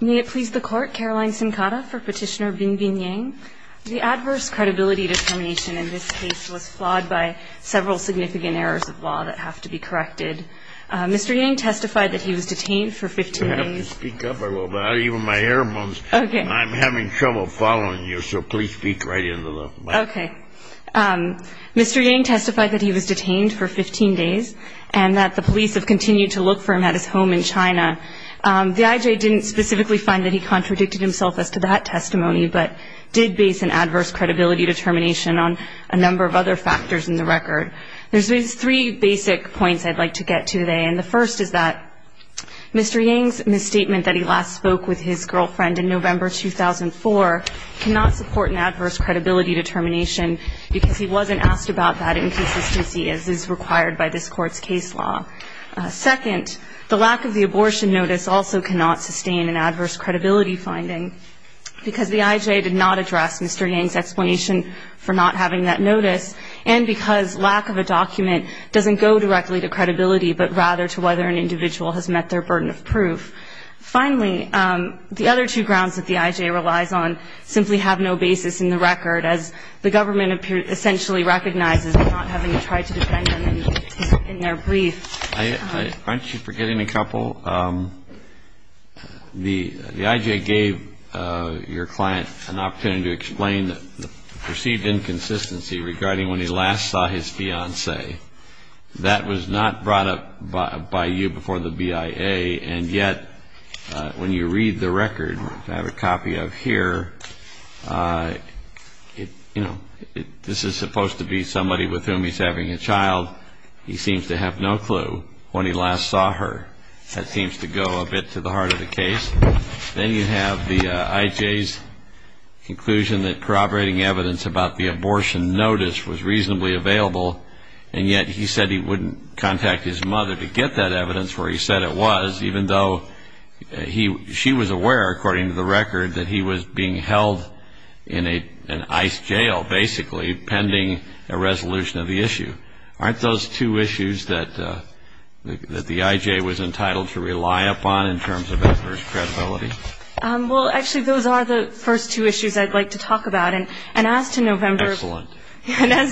May it please the Court, Caroline Sincada for Petitioner Binbin Yang. The adverse credibility determination in this case was flawed by several significant errors of law that have to be corrected. Mr. Yang testified that he was detained for 15 days. If you have to speak up, I will, but even my hair moans. Okay. I'm having trouble following you, so please speak right into the microphone. Okay. Mr. Yang testified that he was detained for 15 days and that the police have continued to look for him at his home in China. The IJ didn't specifically find that he contradicted himself as to that testimony, but did base an adverse credibility determination on a number of other factors in the record. There's three basic points I'd like to get to today, and the first is that Mr. Yang's misstatement that he last spoke with his girlfriend in November 2004 cannot support an adverse credibility determination, because he wasn't asked about that inconsistency as is required by this Court's case law. Second, the lack of the abortion notice also cannot sustain an adverse credibility finding, because the IJ did not address Mr. Yang's explanation for not having that notice, and because lack of a document doesn't go directly to credibility, but rather to whether an individual has met their burden of proof. Finally, the other two grounds that the IJ relies on simply have no basis in the record, as the government essentially recognizes in not having tried to defend them in their brief. Aren't you forgetting a couple? The IJ gave your client an opportunity to explain the perceived inconsistency regarding when he last saw his fiancée. That was not brought up by you before the BIA, and yet when you read the record, I have a copy of here, this is supposed to be somebody with whom he's having a child. He seems to have no clue when he last saw her. That seems to go a bit to the heart of the case. Then you have the IJ's conclusion that corroborating evidence about the abortion notice was reasonably available, and yet he said he wouldn't contact his mother to get that evidence where he said it was, even though she was aware, according to the record, that he was being held in an ICE jail, basically pending a resolution of the issue. Aren't those two issues that the IJ was entitled to rely upon in terms of adverse credibility? Well, actually, those are the first two issues I'd like to talk about. Excellent. And as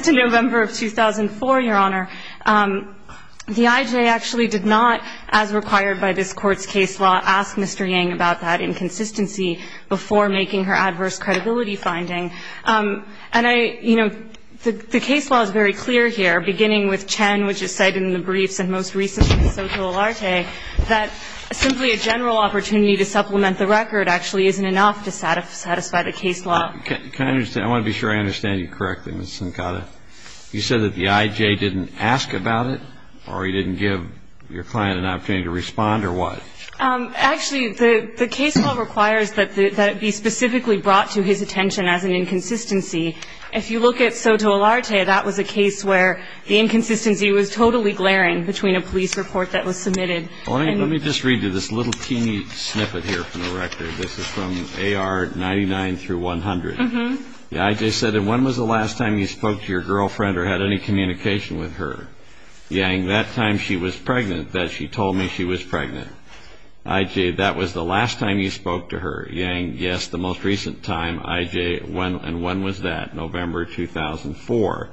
to November of 2004, Your Honor, the IJ actually did not, as required by this Court's case law, ask Mr. Yang about that inconsistency before making her adverse credibility finding. And I, you know, the case law is very clear here, beginning with Chen, which is cited in the briefs, and most recently Soto Elarte, that simply a general opportunity to supplement the record actually isn't enough to satisfy the case law. Can I understand? I want to be sure I understand you correctly, Ms. Sincada. You said that the IJ didn't ask about it, or he didn't give your client an opportunity to respond, or what? Actually, the case law requires that it be specifically brought to his attention as an inconsistency. If you look at Soto Elarte, that was a case where the inconsistency was totally glaring between a police report that was submitted. Let me just read you this little teeny snippet here from the record. This is from AR 99 through 100. The IJ said, and when was the last time you spoke to your girlfriend or had any communication with her? Yang, that time she was pregnant, that she told me she was pregnant. IJ, that was the last time you spoke to her. Yang, yes, the most recent time. IJ, and when was that? November 2004.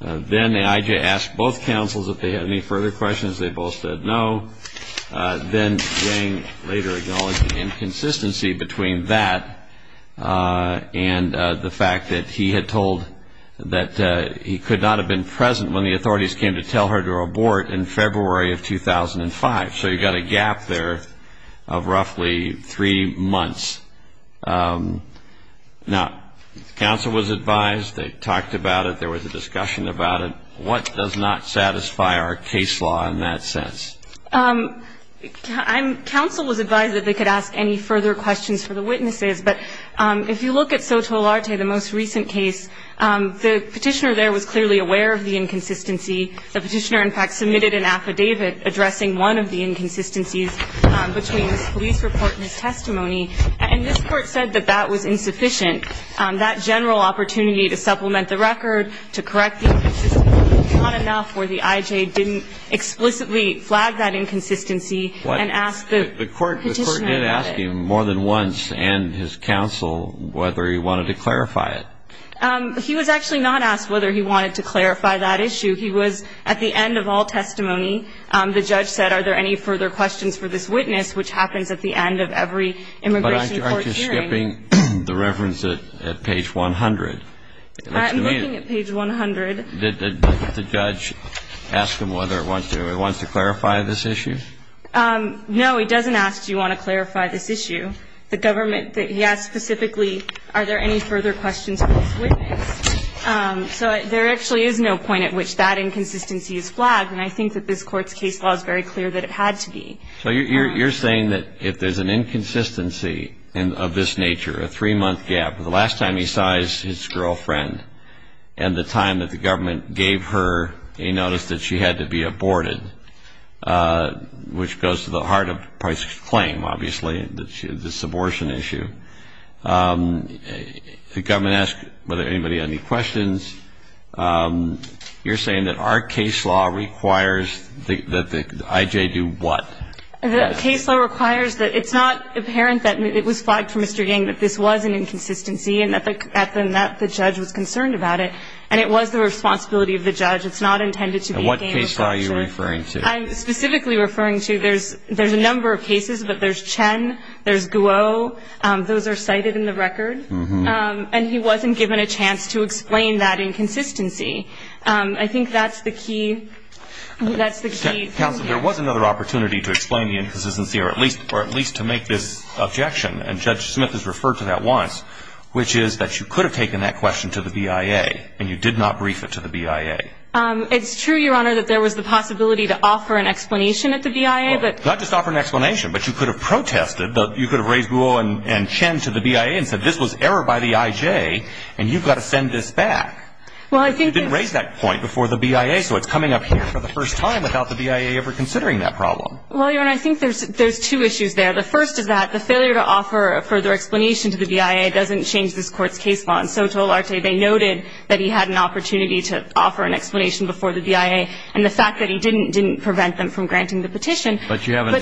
Then the IJ asked both counsels if they had any further questions. They both said no. Then Yang later acknowledged the inconsistency between that and the fact that he had told that he could not have been present when the authorities came to tell her to abort in February of 2005. So you've got a gap there of roughly three months. Now, counsel was advised. They talked about it. There was a discussion about it. What does not satisfy our case law in that sense? Counsel was advised that they could ask any further questions for the witnesses, but if you look at Soto Olarte, the most recent case, the petitioner there was clearly aware of the inconsistency. The petitioner, in fact, submitted an affidavit addressing one of the inconsistencies between his police report and his testimony, and this court said that that was insufficient. That general opportunity to supplement the record, to correct the inconsistency was not enough where the IJ didn't explicitly flag that inconsistency and ask the petitioner about it. The court did ask him more than once and his counsel whether he wanted to clarify it. He was actually not asked whether he wanted to clarify that issue. He was at the end of all testimony. The judge said, are there any further questions for this witness, which happens at the end of every immigration court hearing. But aren't you skipping the reference at page 100? I'm looking at page 100. Did the judge ask him whether he wants to clarify this issue? No, he doesn't ask do you want to clarify this issue. The government, he asked specifically are there any further questions for this witness. So there actually is no point at which that inconsistency is flagged, and I think that this Court's case law is very clear that it had to be. So you're saying that if there's an inconsistency of this nature, a three-month gap, the last time he sighs his girlfriend and the time that the government gave her a notice that she had to be aborted, which goes to the heart of Price's claim, obviously, this abortion issue. The government asked whether anybody had any questions. You're saying that our case law requires that the I.J. do what? The case law requires that it's not apparent that it was flagged for Mr. Yang that this was an inconsistency and that the judge was concerned about it, and it was the responsibility of the judge. It's not intended to be a game of culture. And what case law are you referring to? I'm specifically referring to there's a number of cases, but there's Chen, there's Guo. Those are cited in the record. And he wasn't given a chance to explain that inconsistency. I think that's the key. Counsel, there was another opportunity to explain the inconsistency or at least to make this objection, and Judge Smith has referred to that once, which is that you could have taken that question to the BIA and you did not brief it to the BIA. It's true, Your Honor, that there was the possibility to offer an explanation at the BIA. Well, not just offer an explanation, but you could have protested. You could have raised Guo and Chen to the BIA and said this was error by the IJ, and you've got to send this back. Well, I think it's – You didn't raise that point before the BIA, so it's coming up here for the first time without the BIA ever considering that problem. Well, Your Honor, I think there's two issues there. The first is that the failure to offer a further explanation to the BIA doesn't change this Court's case law. And so tolarte, they noted that he had an opportunity to offer an explanation before the BIA, and the fact that he didn't didn't prevent them from granting the petition. But you haven't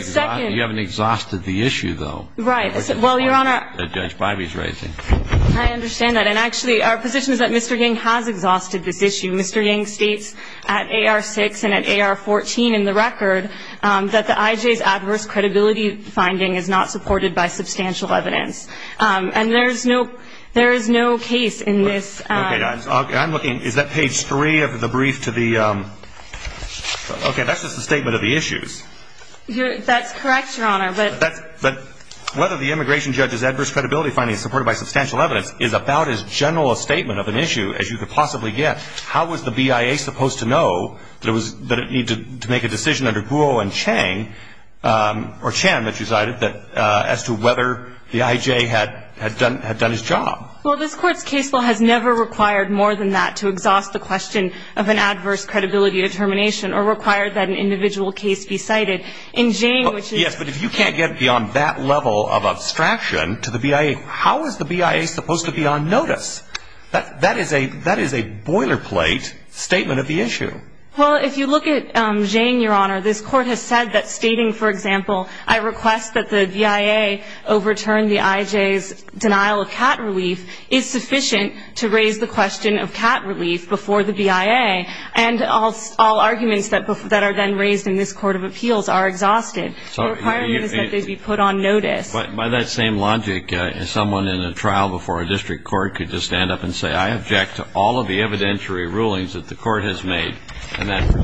exhausted the issue, though. Right. Well, Your Honor – Judge Biby's raising. I understand that. And actually, our position is that Mr. Ying has exhausted this issue. Mr. Ying states at AR-6 and at AR-14 in the record that the IJ's adverse credibility finding is not supported by substantial evidence. And there is no case in this – Okay. I'm looking – is that page 3 of the brief to the – okay, that's just the statement of the issues. That's correct, Your Honor, but – But whether the immigration judge's adverse credibility finding is supported by substantial evidence is about as general a statement of an issue as you could possibly get. How was the BIA supposed to know that it needed to make a decision under Guo and Chang, or Chan that you cited, as to whether the IJ had done its job? Well, this Court's case law has never required more than that to exhaust the question of an adverse credibility determination or require that an individual case be cited. In Chang, which is – Yes, but if you can't get beyond that level of abstraction to the BIA, how is the BIA supposed to be on notice? That is a boilerplate statement of the issue. Well, if you look at Chang, Your Honor, this Court has said that stating, for example, I request that the BIA overturn the IJ's denial of cat relief is sufficient to raise the question of cat relief before the BIA. And all arguments that are then raised in this Court of Appeals are exhausted. The requirement is that they be put on notice. But by that same logic, someone in a trial before a district court could just stand up and say, I object to all of the evidentiary rulings that the Court has made, and that's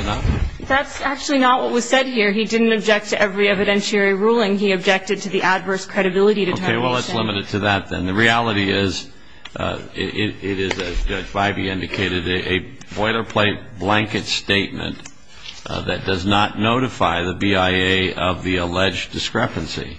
enough? That's actually not what was said here. He didn't object to every evidentiary ruling. He objected to the adverse credibility determination. Okay, well, let's limit it to that then. And the reality is it is, as Judge Bybee indicated, a boilerplate blanket statement that does not notify the BIA of the alleged discrepancy.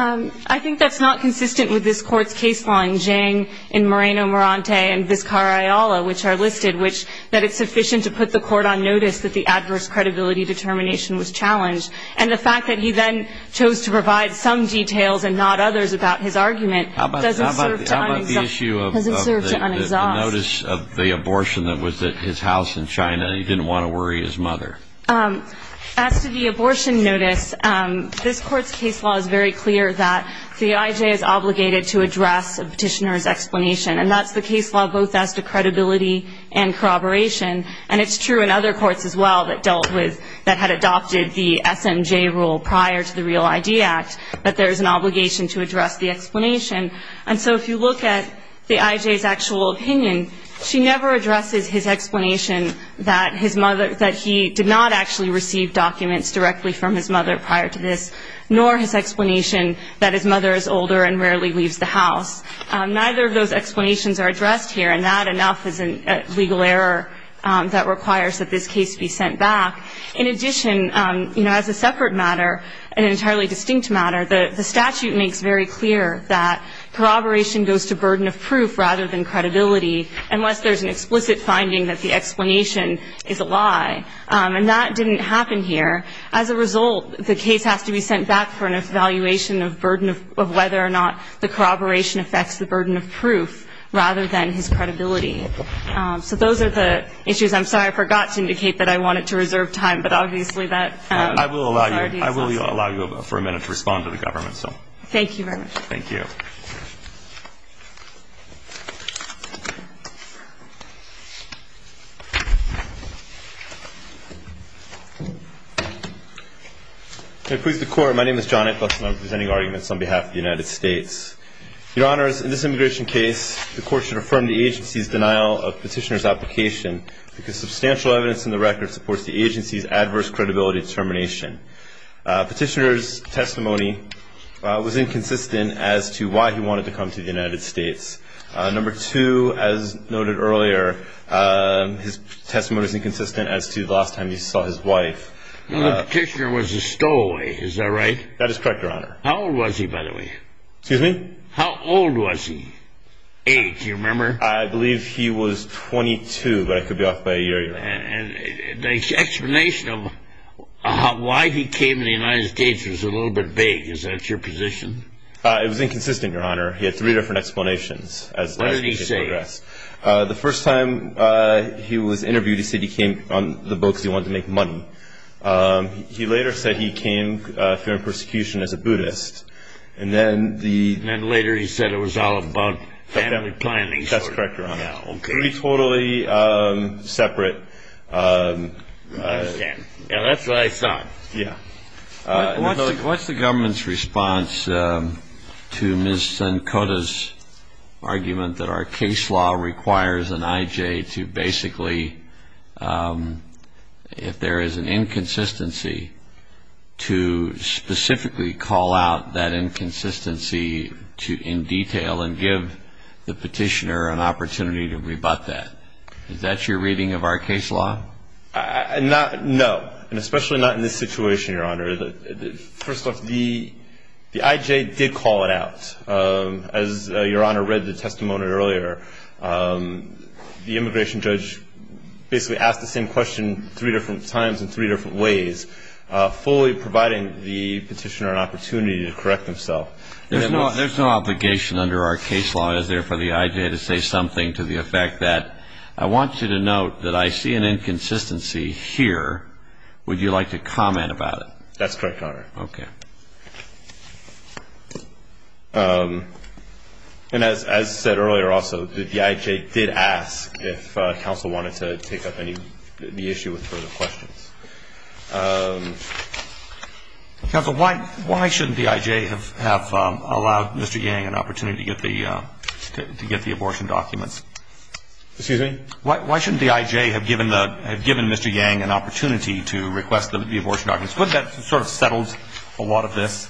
I think that's not consistent with this Court's case law in Chang, in Moreno-Mirante, and Vizcarra-Ayala, which are listed, which that it's sufficient to put the Court on notice that the adverse credibility determination was challenged. And the fact that he then chose to provide some details and not others about his argument doesn't serve to unexhaust. How about the issue of the notice of the abortion that was at his house in China, and he didn't want to worry his mother? As to the abortion notice, this Court's case law is very clear that the IJ is obligated to address a petitioner's explanation. And that's the case law both as to credibility and corroboration. And it's true in other courts as well that dealt with, that had adopted the SMJ rule prior to the REAL-ID Act, that there is an obligation to address the explanation. And so if you look at the IJ's actual opinion, she never addresses his explanation that his mother, that he did not actually receive documents directly from his mother prior to this, nor his explanation that his mother is older and rarely leaves the house. Neither of those explanations are addressed here. And that enough is a legal error that requires that this case be sent back. In addition, you know, as a separate matter, an entirely distinct matter, the statute makes very clear that corroboration goes to burden of proof rather than credibility, unless there's an explicit finding that the explanation is a lie. And that didn't happen here. As a result, the case has to be sent back for an evaluation of burden of whether or not the corroboration affects the burden of proof rather than his credibility. So those are the issues. I'm sorry, I forgot to indicate that I wanted to reserve time. But obviously that's already decided. I will allow you for a minute to respond to the government. Thank you very much. Thank you. May it please the Court, my name is John Eccleston. I'm presenting arguments on behalf of the United States. Your Honors, in this immigration case, the Court should affirm the agency's denial of petitioner's application, because substantial evidence in the record supports the agency's adverse credibility determination. The petitioner was a stowaway, is that right? That is correct, Your Honor. How old was he, by the way? Excuse me? How old was he? Age, do you remember? I believe he was 22, but I could be off by a year, Your Honor. The explanation of why he came to the United States was a little bit vague. Is that your position? It was inconsistent, Your Honor. He had three different explanations. What did he say? The first time he was interviewed, he said he came on the boat because he wanted to make money. He later said he came fearing persecution as a Buddhist. And then later he said it was all about family planning. That's correct, Your Honor. Three totally separate. I understand. That's what I thought. Yeah. What's the government's response to Ms. Senkota's argument that our case law requires an IJ to basically, if there is an inconsistency, to specifically call out that inconsistency in detail and give the petitioner an opportunity to rebut that? Is that your reading of our case law? No, and especially not in this situation, Your Honor. First off, the IJ did call it out. As Your Honor read the testimony earlier, the immigration judge basically asked the same question three different times in three different ways, fully providing the petitioner an opportunity to correct himself. There's no obligation under our case law, is there, for the IJ to say something to the effect that, I want you to note that I see an inconsistency here. Would you like to comment about it? That's correct, Your Honor. Okay. And as said earlier also, the IJ did ask if counsel wanted to take up the issue with further questions. Counsel, why shouldn't the IJ have allowed Mr. Yang an opportunity to get the abortion documents? Excuse me? Why shouldn't the IJ have given Mr. Yang an opportunity to request the abortion documents? Wouldn't that have sort of settled a lot of this?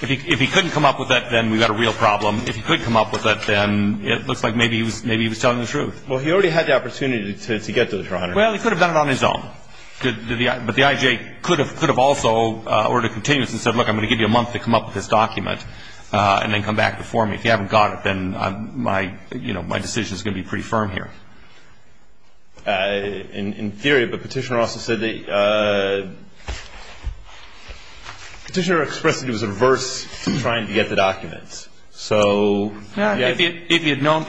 If he couldn't come up with it, then we've got a real problem. If he could come up with it, then it looks like maybe he was telling the truth. Well, he already had the opportunity to get those, Your Honor. Well, he could have done it on his own. But the IJ could have also, or to continue, said, look, I'm going to give you a month to come up with this document and then come back before me. If you haven't got it, then my decision is going to be pretty firm here. In theory, but Petitioner also said that Petitioner expressed that he was averse to trying to get the documents. If he had known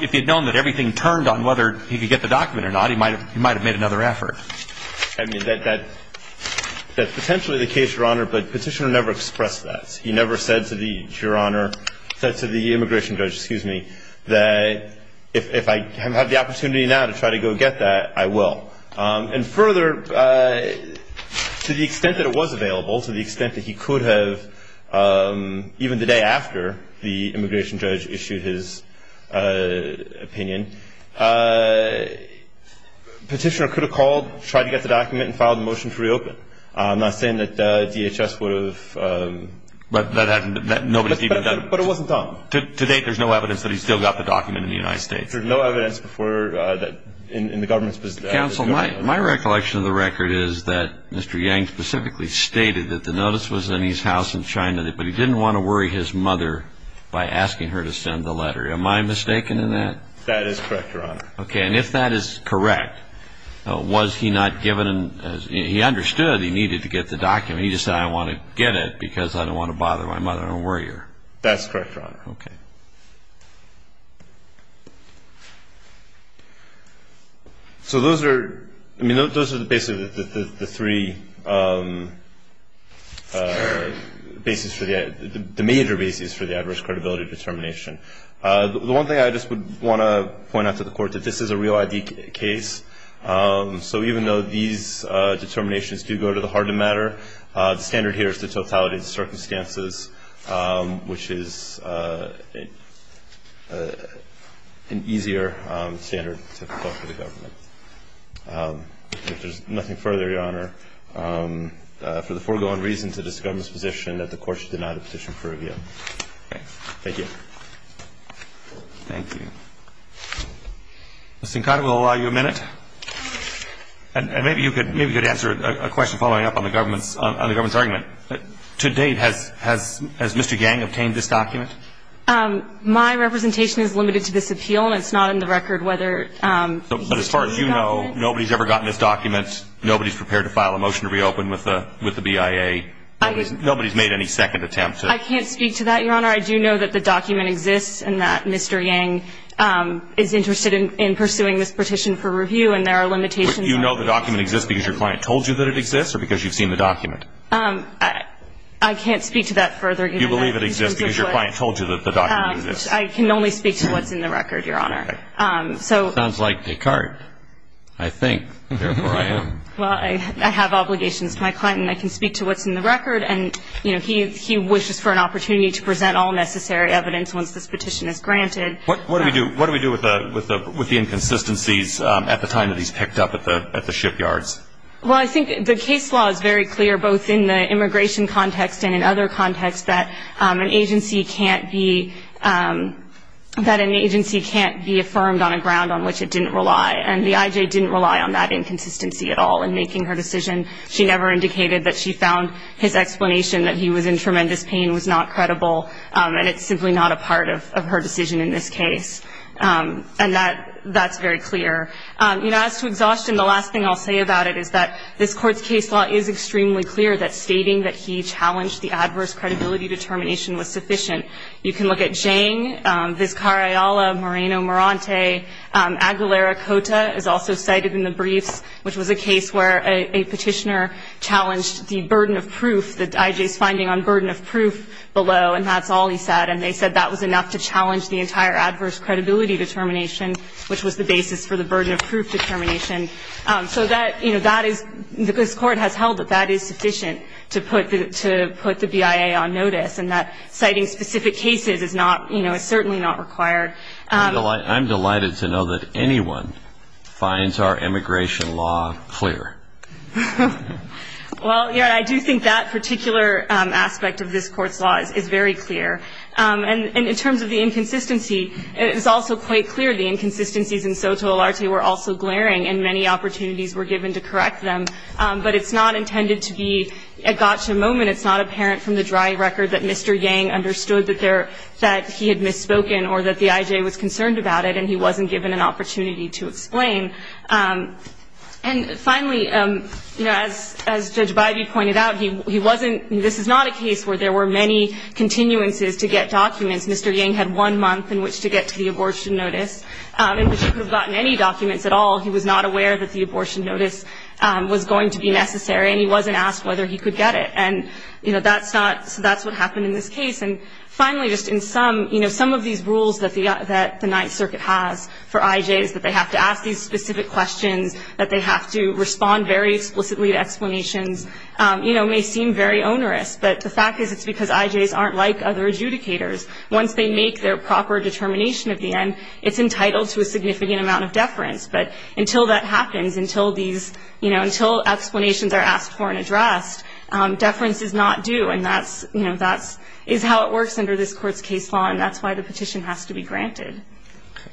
that everything turned on whether he could get the document or not, he might have made another effort. I mean, that's potentially the case, Your Honor, but Petitioner never expressed that. He never said to the immigration judge, excuse me, that if I have had the opportunity now to try to go get that, I will. And further, to the extent that it was available, to the extent that he could have, even the day after the immigration judge issued his opinion, Petitioner could have called, tried to get the document, and filed a motion to reopen. I'm not saying that DHS would have. But nobody's even done it. But it wasn't done. To date, there's no evidence that he still got the document in the United States. There's no evidence before that in the government's position. Counsel, my recollection of the record is that Mr. Yang specifically stated that the notice was in his house in China, but he didn't want to worry his mother by asking her to send the letter. Am I mistaken in that? That is correct, Your Honor. Okay. And if that is correct, was he not given, he understood he needed to get the document. He just said, I want to get it because I don't want to bother my mother or worry her. That's correct, Your Honor. Okay. Thank you. So those are, I mean, those are basically the three basis for the, the major basis for the adverse credibility determination. The one thing I just would want to point out to the Court, that this is a real ID case. So even though these determinations do go to the heart of the matter, the standard here is the totality of the circumstances, which is an easier standard to follow for the government. If there's nothing further, Your Honor, for the foregoing reason to this government's position that the Court should deny the petition for review. Okay. Thank you. Thank you. Ms. Sincott, we'll allow you a minute. And maybe you could answer a question following up on the government's argument. To date, has Mr. Yang obtained this document? My representation is limited to this appeal, and it's not in the record whether he obtained the document. But as far as you know, nobody's ever gotten this document. Nobody's prepared to file a motion to reopen with the BIA. Nobody's made any second attempt to. I can't speak to that, Your Honor. Your Honor, I do know that the document exists and that Mr. Yang is interested in pursuing this petition for review, and there are limitations. But do you know the document exists because your client told you that it exists or because you've seen the document? I can't speak to that further. You believe it exists because your client told you that the document exists. I can only speak to what's in the record, Your Honor. Sounds like Descartes. I think. Therefore, I am. Well, I have obligations to my client, and I can speak to what's in the record. And, you know, he wishes for an opportunity to present all necessary evidence once this petition is granted. What do we do with the inconsistencies at the time that he's picked up at the shipyards? Well, I think the case law is very clear, both in the immigration context and in other contexts, that an agency can't be affirmed on a ground on which it didn't rely. And the IJ didn't rely on that inconsistency at all in making her decision. She never indicated that she found his explanation that he was in tremendous pain was not credible, and it's simply not a part of her decision in this case. And that's very clear. You know, as to exhaustion, the last thing I'll say about it is that this Court's case law is extremely clear, that stating that he challenged the adverse credibility determination was sufficient. You can look at Zhang, Vizcarayala, Moreno, Morante. Aguilera-Cota is also cited in the briefs, which was a case where a petitioner challenged the burden of proof, the IJ's finding on burden of proof below, and that's all he said. And they said that was enough to challenge the entire adverse credibility determination, which was the basis for the burden of proof determination. So that, you know, that is, this Court has held that that is sufficient to put the BIA on notice, and that citing specific cases is not, you know, is certainly not required. I'm delighted to know that anyone finds our immigration law clear. Well, yeah, I do think that particular aspect of this Court's law is very clear. And in terms of the inconsistency, it is also quite clear the inconsistencies in Soto-Alarte were also glaring, and many opportunities were given to correct them. But it's not intended to be a gotcha moment. It's not apparent from the dry record that Mr. Yang understood that he had misspoken or that the IJ was concerned about it and he wasn't given an opportunity to explain. And finally, you know, as Judge Bybee pointed out, he wasn't, this is not a case where there were many continuances to get documents. Mr. Yang had one month in which to get to the abortion notice, in which he could have gotten any documents at all. He was not aware that the abortion notice was going to be necessary, and he wasn't asked whether he could get it. And, you know, that's not, that's what happened in this case. And finally, just in some, you know, some of these rules that the Ninth Circuit has for IJs, that they have to ask these specific questions, that they have to respond very explicitly to explanations, you know, may seem very onerous. But the fact is it's because IJs aren't like other adjudicators. Once they make their proper determination at the end, it's entitled to a significant amount of deference. But until that happens, until these, you know, until explanations are asked for and addressed, deference is not due. And that's, you know, that's, is how it works under this Court's case law, and that's why the petition has to be granted.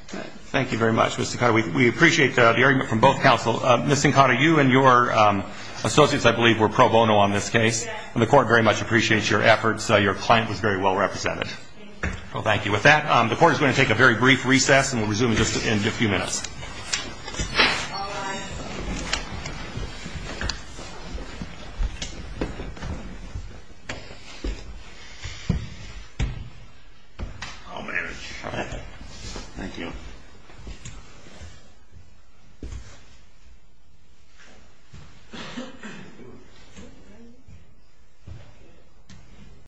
Thank you very much, Ms. Sakata. We appreciate the argument from both counsel. Ms. Sakata, you and your associates, I believe, were pro bono on this case, and the Court very much appreciates your efforts. Your client was very well represented. Thank you. Well, thank you. With that, the Court is going to take a very brief recess, and we'll resume in just a few minutes. Bye-bye. I'll manage. Thank you.